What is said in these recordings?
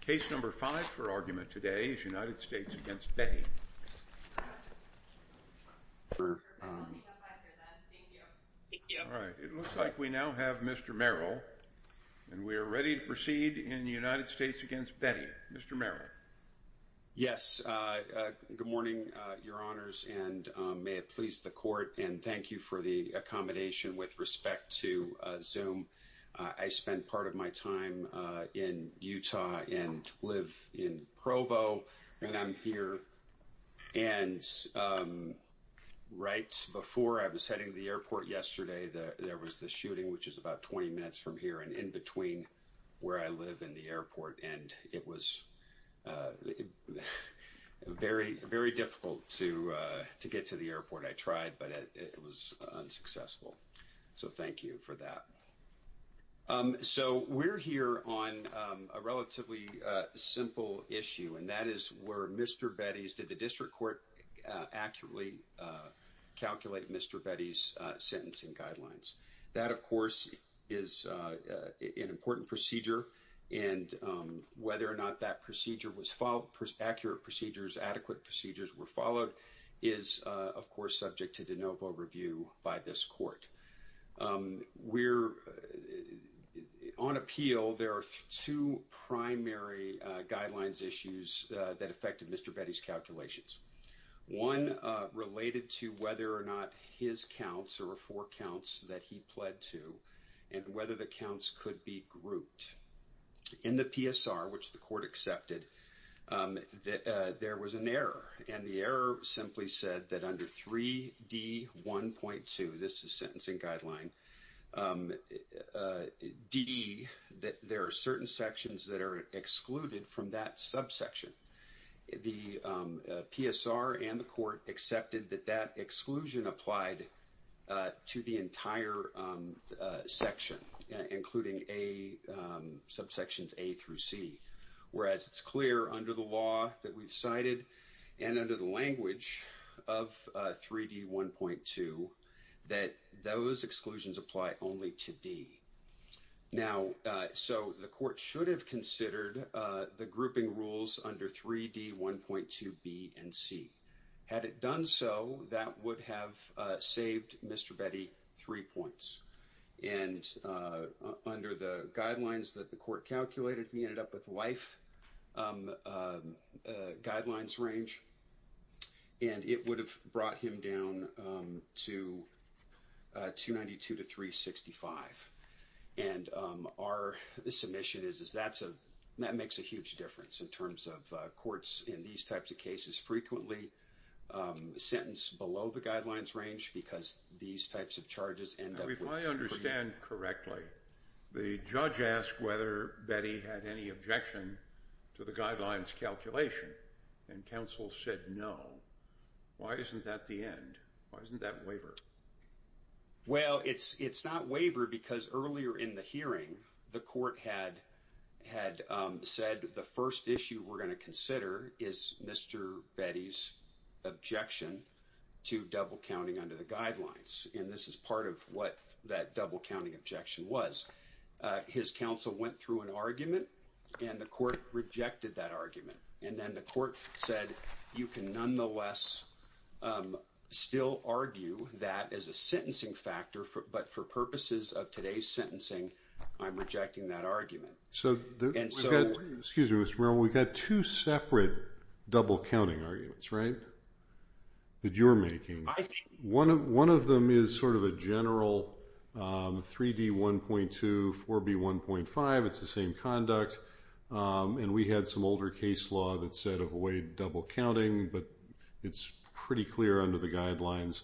Case number five for argument today is United States v. Betty. All right, it looks like we now have Mr. Merrill, and we are ready to proceed in United States v. Betty. Mr. Merrill. Yes, good morning, your honors, and may it please the court and thank you for the accommodation with respect to Zoom. I spend part of my time in Utah and live in Provo, and I'm here, and right before I was heading to the airport yesterday, there was the shooting, which is about 20 minutes from here and in between where I live in the airport, and it was very, very difficult to get to the airport. I tried, but it was unsuccessful, so thank you for that. So we're here on a relatively simple issue, and that is where Mr. Betty's, did the district court accurately calculate Mr. Betty's sentencing guidelines? That, of course, is an important procedure, and whether or not that procedure was followed, accurate procedures, adequate procedures were followed, is, of course, subject to de novo review by this court. We're, on appeal, there are two primary guidelines issues that affected Mr. Betty's calculations. One related to whether or not his counts or four counts that he pled to and whether the counts could be grouped. In the PSR, which the court accepted, there was an error, and the error simply said that under 3D1.2, this is sentencing guideline, D, that there are certain sections that are excluded from that subsection. The PSR and the court accepted that that exclusion applied to the entire section, including subsections A through C, whereas it's clear under the law that we've cited and under the language of 3D1.2 that those exclusions apply only to D. Now, so the court should have considered the grouping rules under 3D1.2B and C. Had it done so, that would have saved Mr. Betty three points. And under the guidelines that the court calculated, he ended up with life guidelines range, and it would have brought him down to 292 to 365. And our submission is that makes a huge difference in terms of courts in these types of cases. He's frequently sentenced below the guidelines range because these types of charges end up... Now, if I understand correctly, the judge asked whether Betty had any objection to the guidelines calculation, and counsel said no. Why isn't that the end? Why isn't that waiver? Well, it's not waiver because earlier in the hearing, the court had said the first issue we're going to consider is Mr. Betty's objection to double counting under the guidelines, and this is part of what that double counting objection was. His counsel went through an argument, and the court rejected that argument. And then the court said, you can nonetheless still argue that as a sentencing factor, but for purposes of today's sentencing, I'm rejecting that argument. So, excuse me, Mr. Merrill. We've got two separate double counting arguments, right, that you're making. One of them is sort of a general 3D1.2, 4B1.5. It's the same conduct, and we had some older case law that said avoid double counting, but it's pretty clear under the guidelines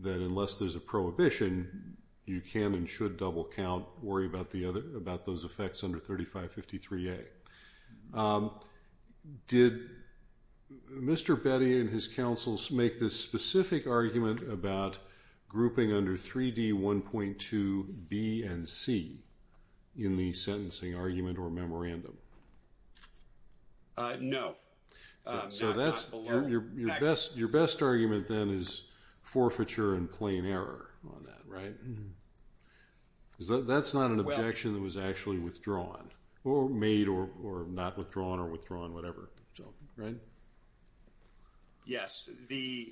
that unless there's a prohibition, you can and should double count, worry about those effects under 3553A. Did Mr. Betty and his counsels make this specific argument about grouping under 3D1.2B and C in the sentencing argument or memorandum? No. So that's your best argument then is forfeiture and plain error on that, right? Mm-hmm. That's not an objection that was actually withdrawn, or made or not withdrawn or withdrawn, whatever, right? Yes.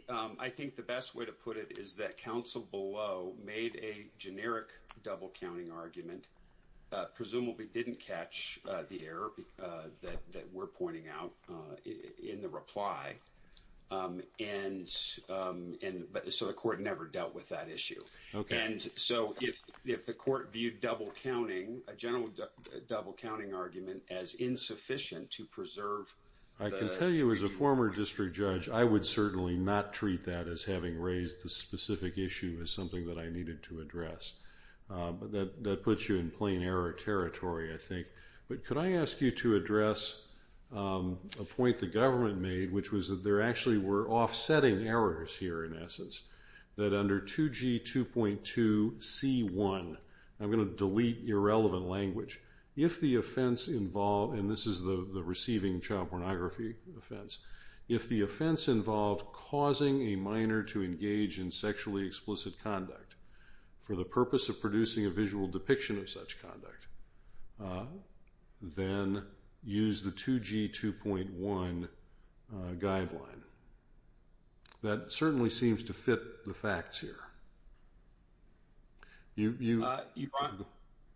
I think the best way to put it is that counsel below made a generic double counting argument, presumably didn't catch the error that we're pointing out in the reply, and so the court never dealt with that issue. Okay. And so if the court viewed double counting, a general double counting argument, as insufficient to preserve... I can tell you as a former district judge, I would certainly not treat that as having raised the specific issue as something that I needed to address. That puts you in plain error territory, I think. But could I ask you to address a point the government made, which was that there actually were offsetting errors here in essence, that under 2G2.2C1, I'm going to delete irrelevant language, if the offense involved... And this is the receiving child pornography offense. If the offense involved causing a minor to engage in sexually explicit conduct for the purpose of a visual depiction of such conduct, then use the 2G2.1 guideline. That certainly seems to fit the facts here.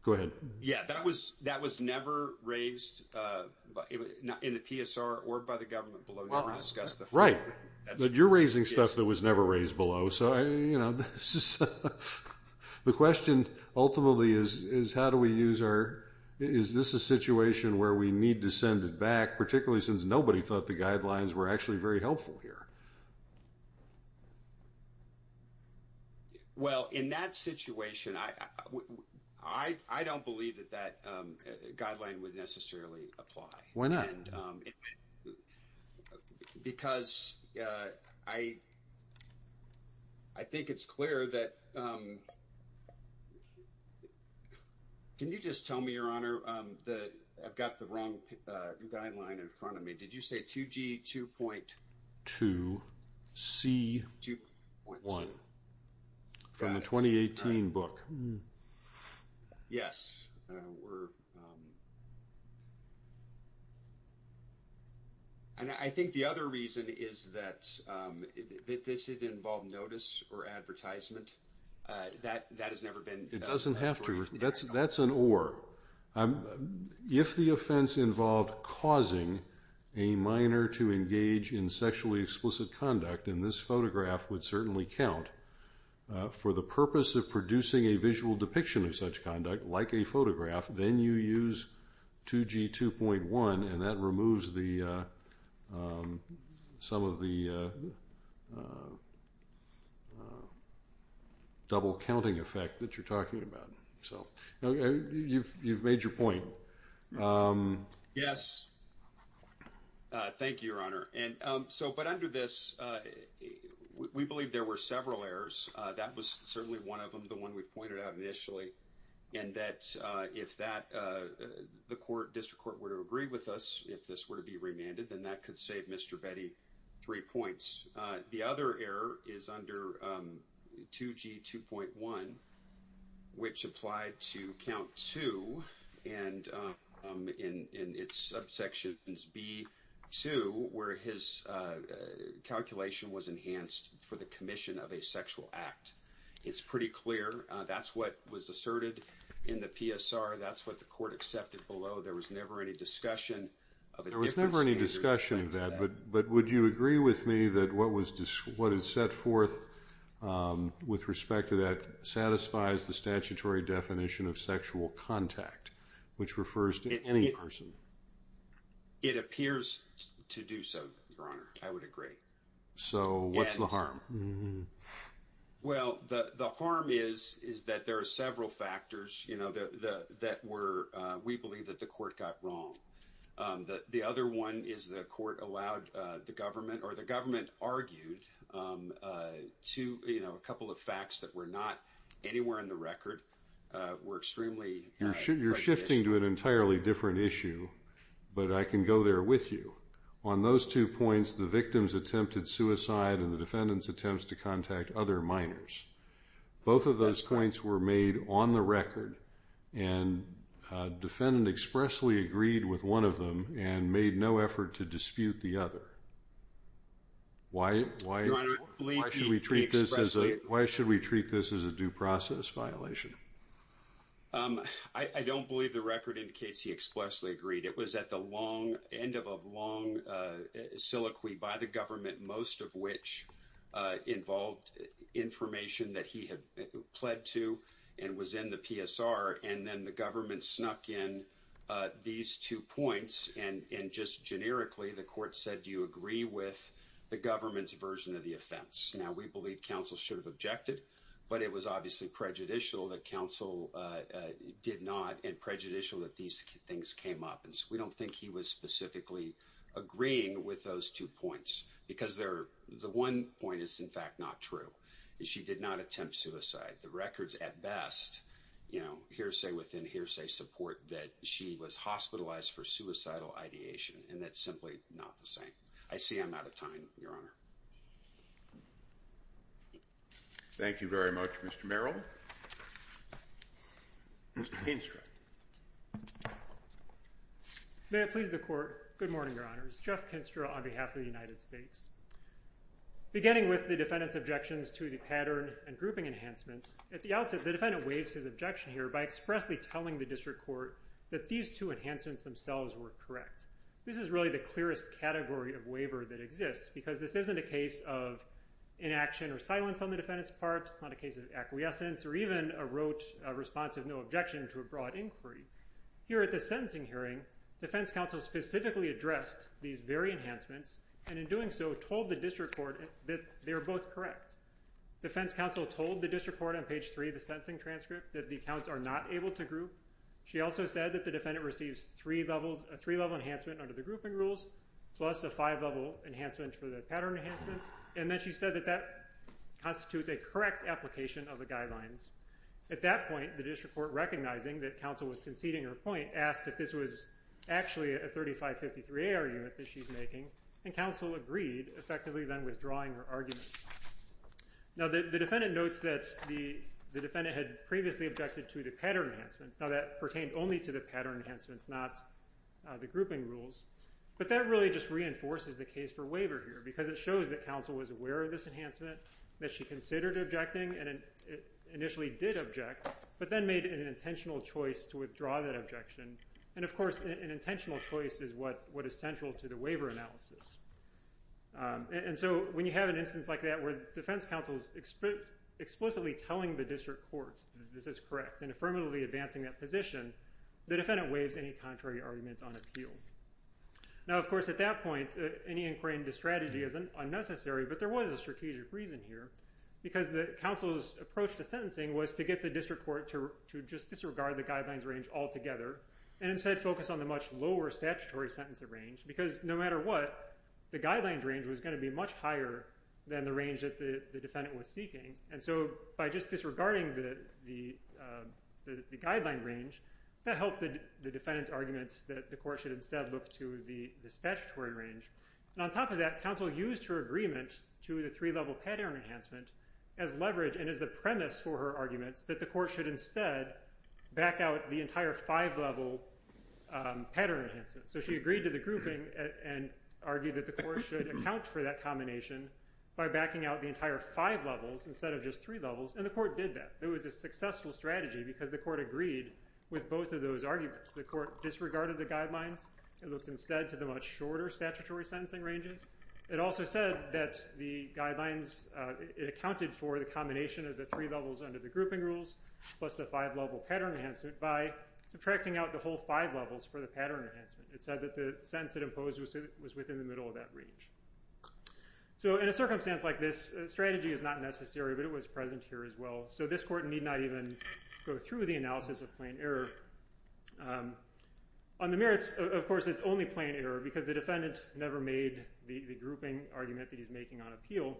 Go ahead. Yeah, that was never raised in the PSR or by the government below. Right. But you're raising stuff that was never raised below. So the question ultimately is, how do we use our... Is this a situation where we need to send it back, particularly since nobody thought the guidelines were actually very helpful here? Well, in that situation, I don't believe that that guideline would necessarily apply. Why not? Because I think it's clear that... Can you just tell me, Your Honor, that I've got the wrong guideline in front of me. Did you say 2G2.2C1 from the 2018 book? Yes. And I think the other reason is that this didn't involve notice or advertisement. That has never been... It doesn't have to. That's an or. If the offense involved causing a minor to engage in sexually explicit conduct, and this photograph would certainly count, for the purpose of producing a visual depiction of such conduct, like a photograph, then you use 2G2.1, and that removes some of the double-counting effect that you're talking about. So you've made your point. Yes. Thank you, Your Honor. But under this, we believe there were several errors. That was certainly one of them, the one we pointed out initially, and that if that, the court, district court, were to agree with us, if this were to be remanded, then that could save Mr. Betty three points. The other error is under 2G2.1, which applied to count two, and in its subsections B2, where his calculation was enhanced for the commission of a sexual act. It's pretty clear. That's what was asserted in the PSR. That's what the court accepted below. There was never any discussion of... There was never any discussion of that, but would you agree with me that what is set forth with respect to that satisfies the statutory definition of sexual contact, which refers to any person? It appears to do so, Your Honor. I would agree. So what's the harm? Well, the harm is that there are several factors that we believe that the court got wrong. The other one is the court allowed the government or the government argued to, you know, a couple of facts that were not anywhere in the record, were extremely... You're shifting to an entirely different issue, but I can go there with you. On those two points, the victim's attempted suicide and the defendant's attempts to contact other minors. Both of those points were made on the record, and the defendant expressly agreed with one of them and made no effort to dispute the other. Why should we treat this as a due process violation? I don't believe the record indicates he expressly agreed. It was at the long end of a long soliloquy by the government, most of which involved information that he had pled to and was in the PSR, and then the government snuck in these two points, and just generically, the court said, do you agree with the government's version of the offense? Now, we believe counsel should have objected, but it was obviously prejudicial that counsel did not and prejudicial that these things came up, and so we don't think he was specifically agreeing with those two points, because the one point is, in fact, not true. She did not attempt suicide. The records, at best, you know, hearsay within hearsay support that she was hospitalized for suicidal ideation, and that's simply not the same. I see I'm out of time, Your Honor. Thank you very much, Mr. Merrill. Mr. Kinstra. May it please the Court. Good morning, Your Honors. Jeff Kinstra on behalf of the United States. Beginning with the defendant's objections to the pattern and grouping enhancements, at the outset, the defendant waives his objection here by expressly telling the district court that these two enhancements themselves were correct. This is really the clearest category of waiver that exists, because this isn't a case of inaction or silence on the defendant's part. It's not a case of acquiescence or even a rote response of no objection to a broad inquiry. Here at the sentencing hearing, defense counsel specifically addressed these very enhancements, and in doing so, told the district court that they were both correct. Defense counsel told the district court on page three of the sentencing transcript that the counts are not able to group. She also said that the defendant receives three-level enhancement under the grouping rules, plus a five-level enhancement for the pattern enhancements, and then she said that that constitutes a correct application of the guidelines. At that point, the district court, recognizing that counsel was conceding her point, asked if this was actually a 3553-A argument that she's making, and counsel agreed, effectively then withdrawing her argument. Now, the defendant notes that the defendant had previously objected to the pattern enhancements. Now, that pertained only to the pattern enhancements, not the grouping rules, but that really just reinforces the case for waiver here, because it shows that counsel was aware of this enhancement, that she considered objecting, and initially did object, but then made an intentional choice to withdraw that objection, and of course, an intentional choice is what is central to the waiver analysis. And so, when you have an instance like that, where defense counsel's explicitly telling the district court that this is correct, and affirmatively advancing that position, the defendant waives any contrary argument on appeal. Now, of course, at that point, any inquiry into strategy isn't unnecessary, but there was a strategic reason here, because the counsel's approach to sentencing was to get the district court to just disregard the guidelines range altogether, and instead focus on the much lower statutory sentence of range, because no matter what, the guidelines range was going to be much higher than the range that the defendant was seeking. And so, by just disregarding the guideline range, that helped the defendant's that the court should instead look to the statutory range. And on top of that, counsel used her agreement to the three-level pattern enhancement as leverage, and as the premise for her arguments, that the court should instead back out the entire five-level pattern enhancement. So, she agreed to the grouping, and argued that the court should account for that combination by backing out the entire five levels, instead of just three levels, and the court did that. It was a successful strategy, because the court agreed with both of those arguments. The court disregarded the guidelines, and looked instead to the much shorter statutory sentencing ranges. It also said that the guidelines, it accounted for the combination of the three levels under the grouping rules, plus the five-level pattern enhancement, by subtracting out the whole five levels for the pattern enhancement. It said that the sentence it imposed was within the middle of that range. So, in a circumstance like this, strategy is not necessary, but it was present here as well. So, this court need not even go through the analysis of plain error. On the merits, of course, it's only plain error, because the defendant never made the grouping argument that he's making on appeal,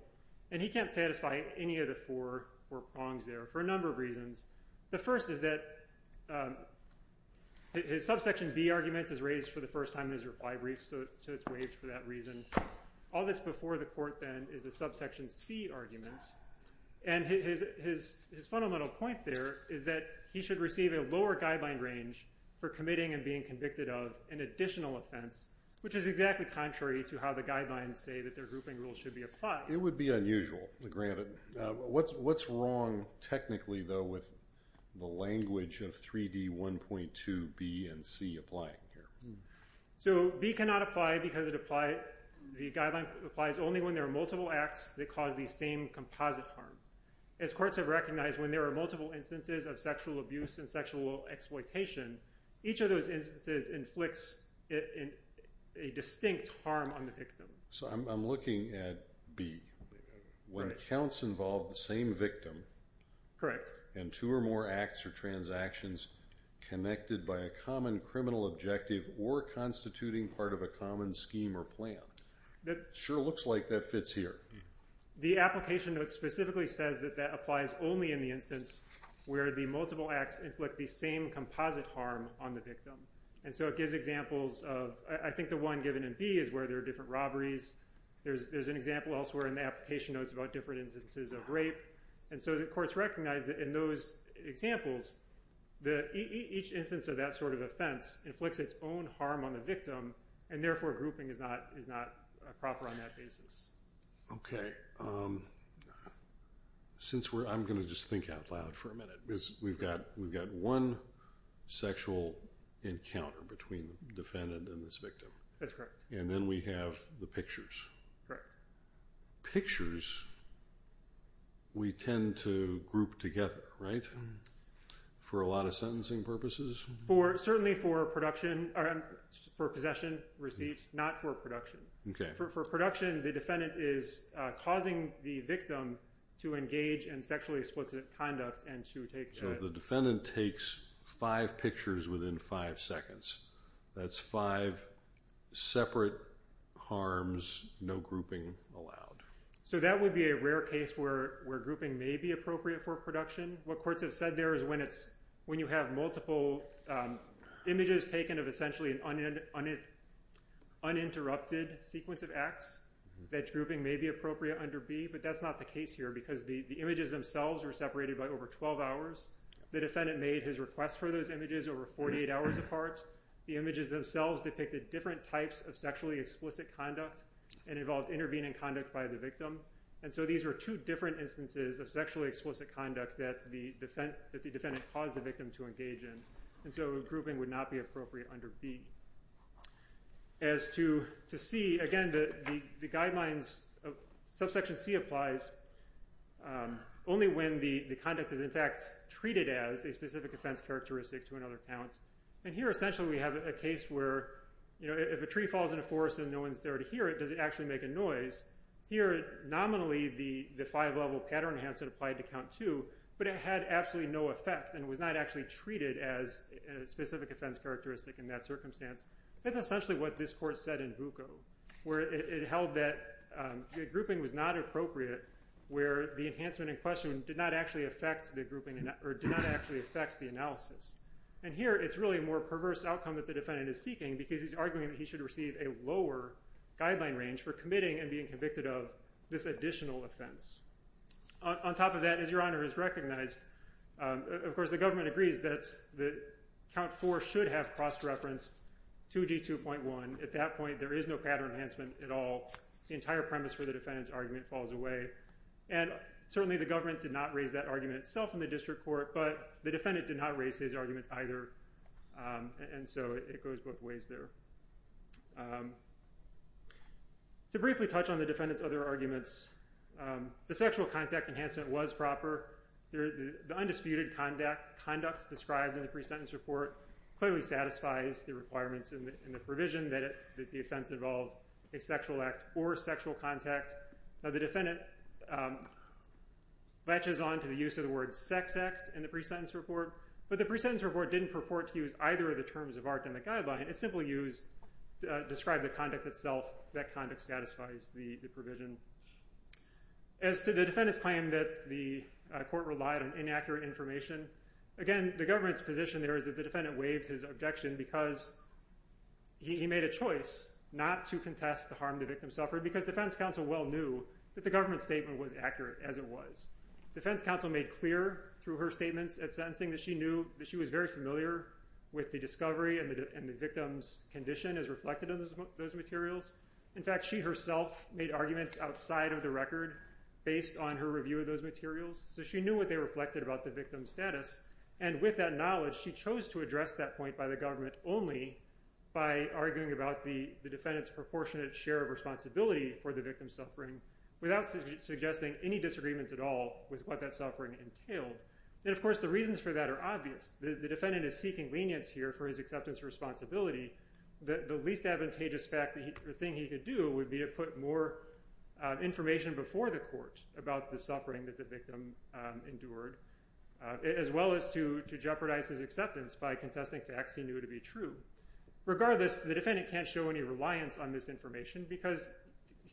and he can't satisfy any of the four prongs there, for a number of reasons. The first is that his subsection B argument is raised for the first time in his reply brief, so it's waived for that reason. All this before the court, then, is the subsection C argument, and his fundamental point there is that he should receive a lower guideline range for committing and being convicted of an additional offense, which is exactly contrary to how the guidelines say that their grouping rules should be applied. It would be unusual, granted. What's wrong, technically, though, with the language of 3D1.2B and C applying here? So, B cannot apply because the guideline applies only when there are multiple acts that cause the same composite harm. As courts have recognized, when there are multiple instances of sexual abuse and sexual exploitation, each of those instances inflicts a distinct harm on the victim. So, I'm looking at B. When counts involve the same victim and two or more acts or transactions connected by a common criminal objective or constituting part of a common scheme or plan, sure looks like that fits here. The application note specifically says that that applies only in the instance where the multiple acts inflict the same composite harm on the victim, and so it gives examples of, I think the one given in B is where there are different robberies. There's an example elsewhere in the application notes about different instances of rape, and so the courts recognize that in those examples, each instance of that sort of offense inflicts its own harm on the victim, and therefore grouping is not proper on that basis. Okay. I'm going to just think out loud for a minute because we've got one sexual encounter between the defendant and this victim. That's correct. And then we have the pictures. Correct. Pictures, we tend to group together, right, for a lot of sentencing purposes? Certainly for possession, receipt, not for production. For production, the defendant is causing the victim to engage in sexually explicit conduct and to take... So, the defendant takes five pictures within five seconds. That's five separate harms, no grouping allowed. So, that would be a rare case where grouping may be appropriate for production. What courts have said there is when you have multiple images taken of essentially an uninterrupted sequence of acts, that grouping may be appropriate under B, but that's not the case here because the images themselves are separated by over 12 hours. The defendant made his request for those images over 48 hours apart. The images themselves depicted different types of sexually explicit conduct and involved intervening conduct by the victim. And so, these are two different instances of sexually explicit conduct that the defendant caused the victim to engage in. And so, grouping would not be appropriate under B. As to C, again, the guidelines, subsection C applies only when the conduct is, in fact, treated as a specific offense characteristic to another count. And here, essentially, we have a case where if a tree falls in a forest and no one's there to hear it, does it actually make a noise? Here, nominally, the five-level pattern enhancement applied to count two, but it had absolutely no effect and was not actually treated as a specific offense characteristic in that circumstance. That's essentially what this court said in Bucco, where it held that grouping was not appropriate where the enhancement in did not actually affect the analysis. And here, it's really a more perverse outcome that the defendant is seeking because he's arguing that he should receive a lower guideline range for committing and being convicted of this additional offense. On top of that, as Your Honor has recognized, of course, the government agrees that count four should have cross-referenced 2G2.1. At that point, there is no pattern enhancement at all. The entire premise for the defendant's And certainly, the government did not raise that argument itself in the district court, but the defendant did not raise his arguments either. And so, it goes both ways there. To briefly touch on the defendant's other arguments, the sexual contact enhancement was proper. The undisputed conduct described in the pre-sentence report clearly satisfies the requirements in the provision that the offense involved a sexual act or sexual contact. Now, the defendant latches on to the use of the word sex act in the pre-sentence report, but the pre-sentence report didn't purport to use either of the terms of our academic guideline. It simply described the conduct itself, that conduct satisfies the provision. As to the defendant's claim that the court relied on inaccurate information, again, the government's position there is that the defendant waived his objection because he made a choice not to contest the harm the victim suffered because defense counsel well that the government's statement was accurate as it was. Defense counsel made clear through her statements at sentencing that she knew that she was very familiar with the discovery and the victim's condition as reflected in those materials. In fact, she herself made arguments outside of the record based on her review of those materials, so she knew what they reflected about the victim's status. And with that knowledge, she chose to address that point by the government only by arguing about the defendant's proportionate share of responsibility for the victim's suffering without suggesting any disagreement at all with what that suffering entailed. And of course, the reasons for that are obvious. The defendant is seeking lenience here for his acceptance responsibility. The least advantageous thing he could do would be to put more information before the court about the suffering that the victim endured as well as to jeopardize his acceptance by contesting facts he knew to be true. Regardless, the defendant can't show any reliance on this because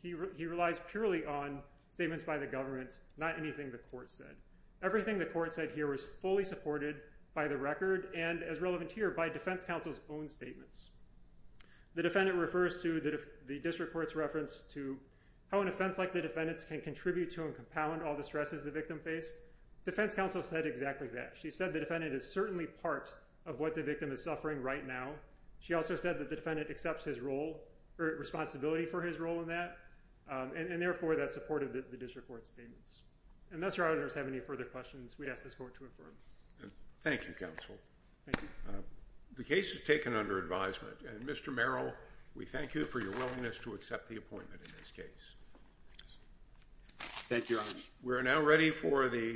he relies purely on statements by the government, not anything the court said. Everything the court said here was fully supported by the record and as relevant here by defense counsel's own statements. The defendant refers to the district court's reference to how an offense like the defendant's can contribute to and compound all the stresses the victim faced. Defense counsel said exactly that. She said the defendant is certainly part of what the victim is right now. She also said that the defendant accepts his role or responsibility for his role in that and therefore that supported the district court's statements. Unless your honors have any further questions, we ask this court to affirm. Thank you, counsel. The case is taken under advisement and Mr. Merrill, we thank you for your willingness to accept the appointment in this case. Thank you. We're now ready for the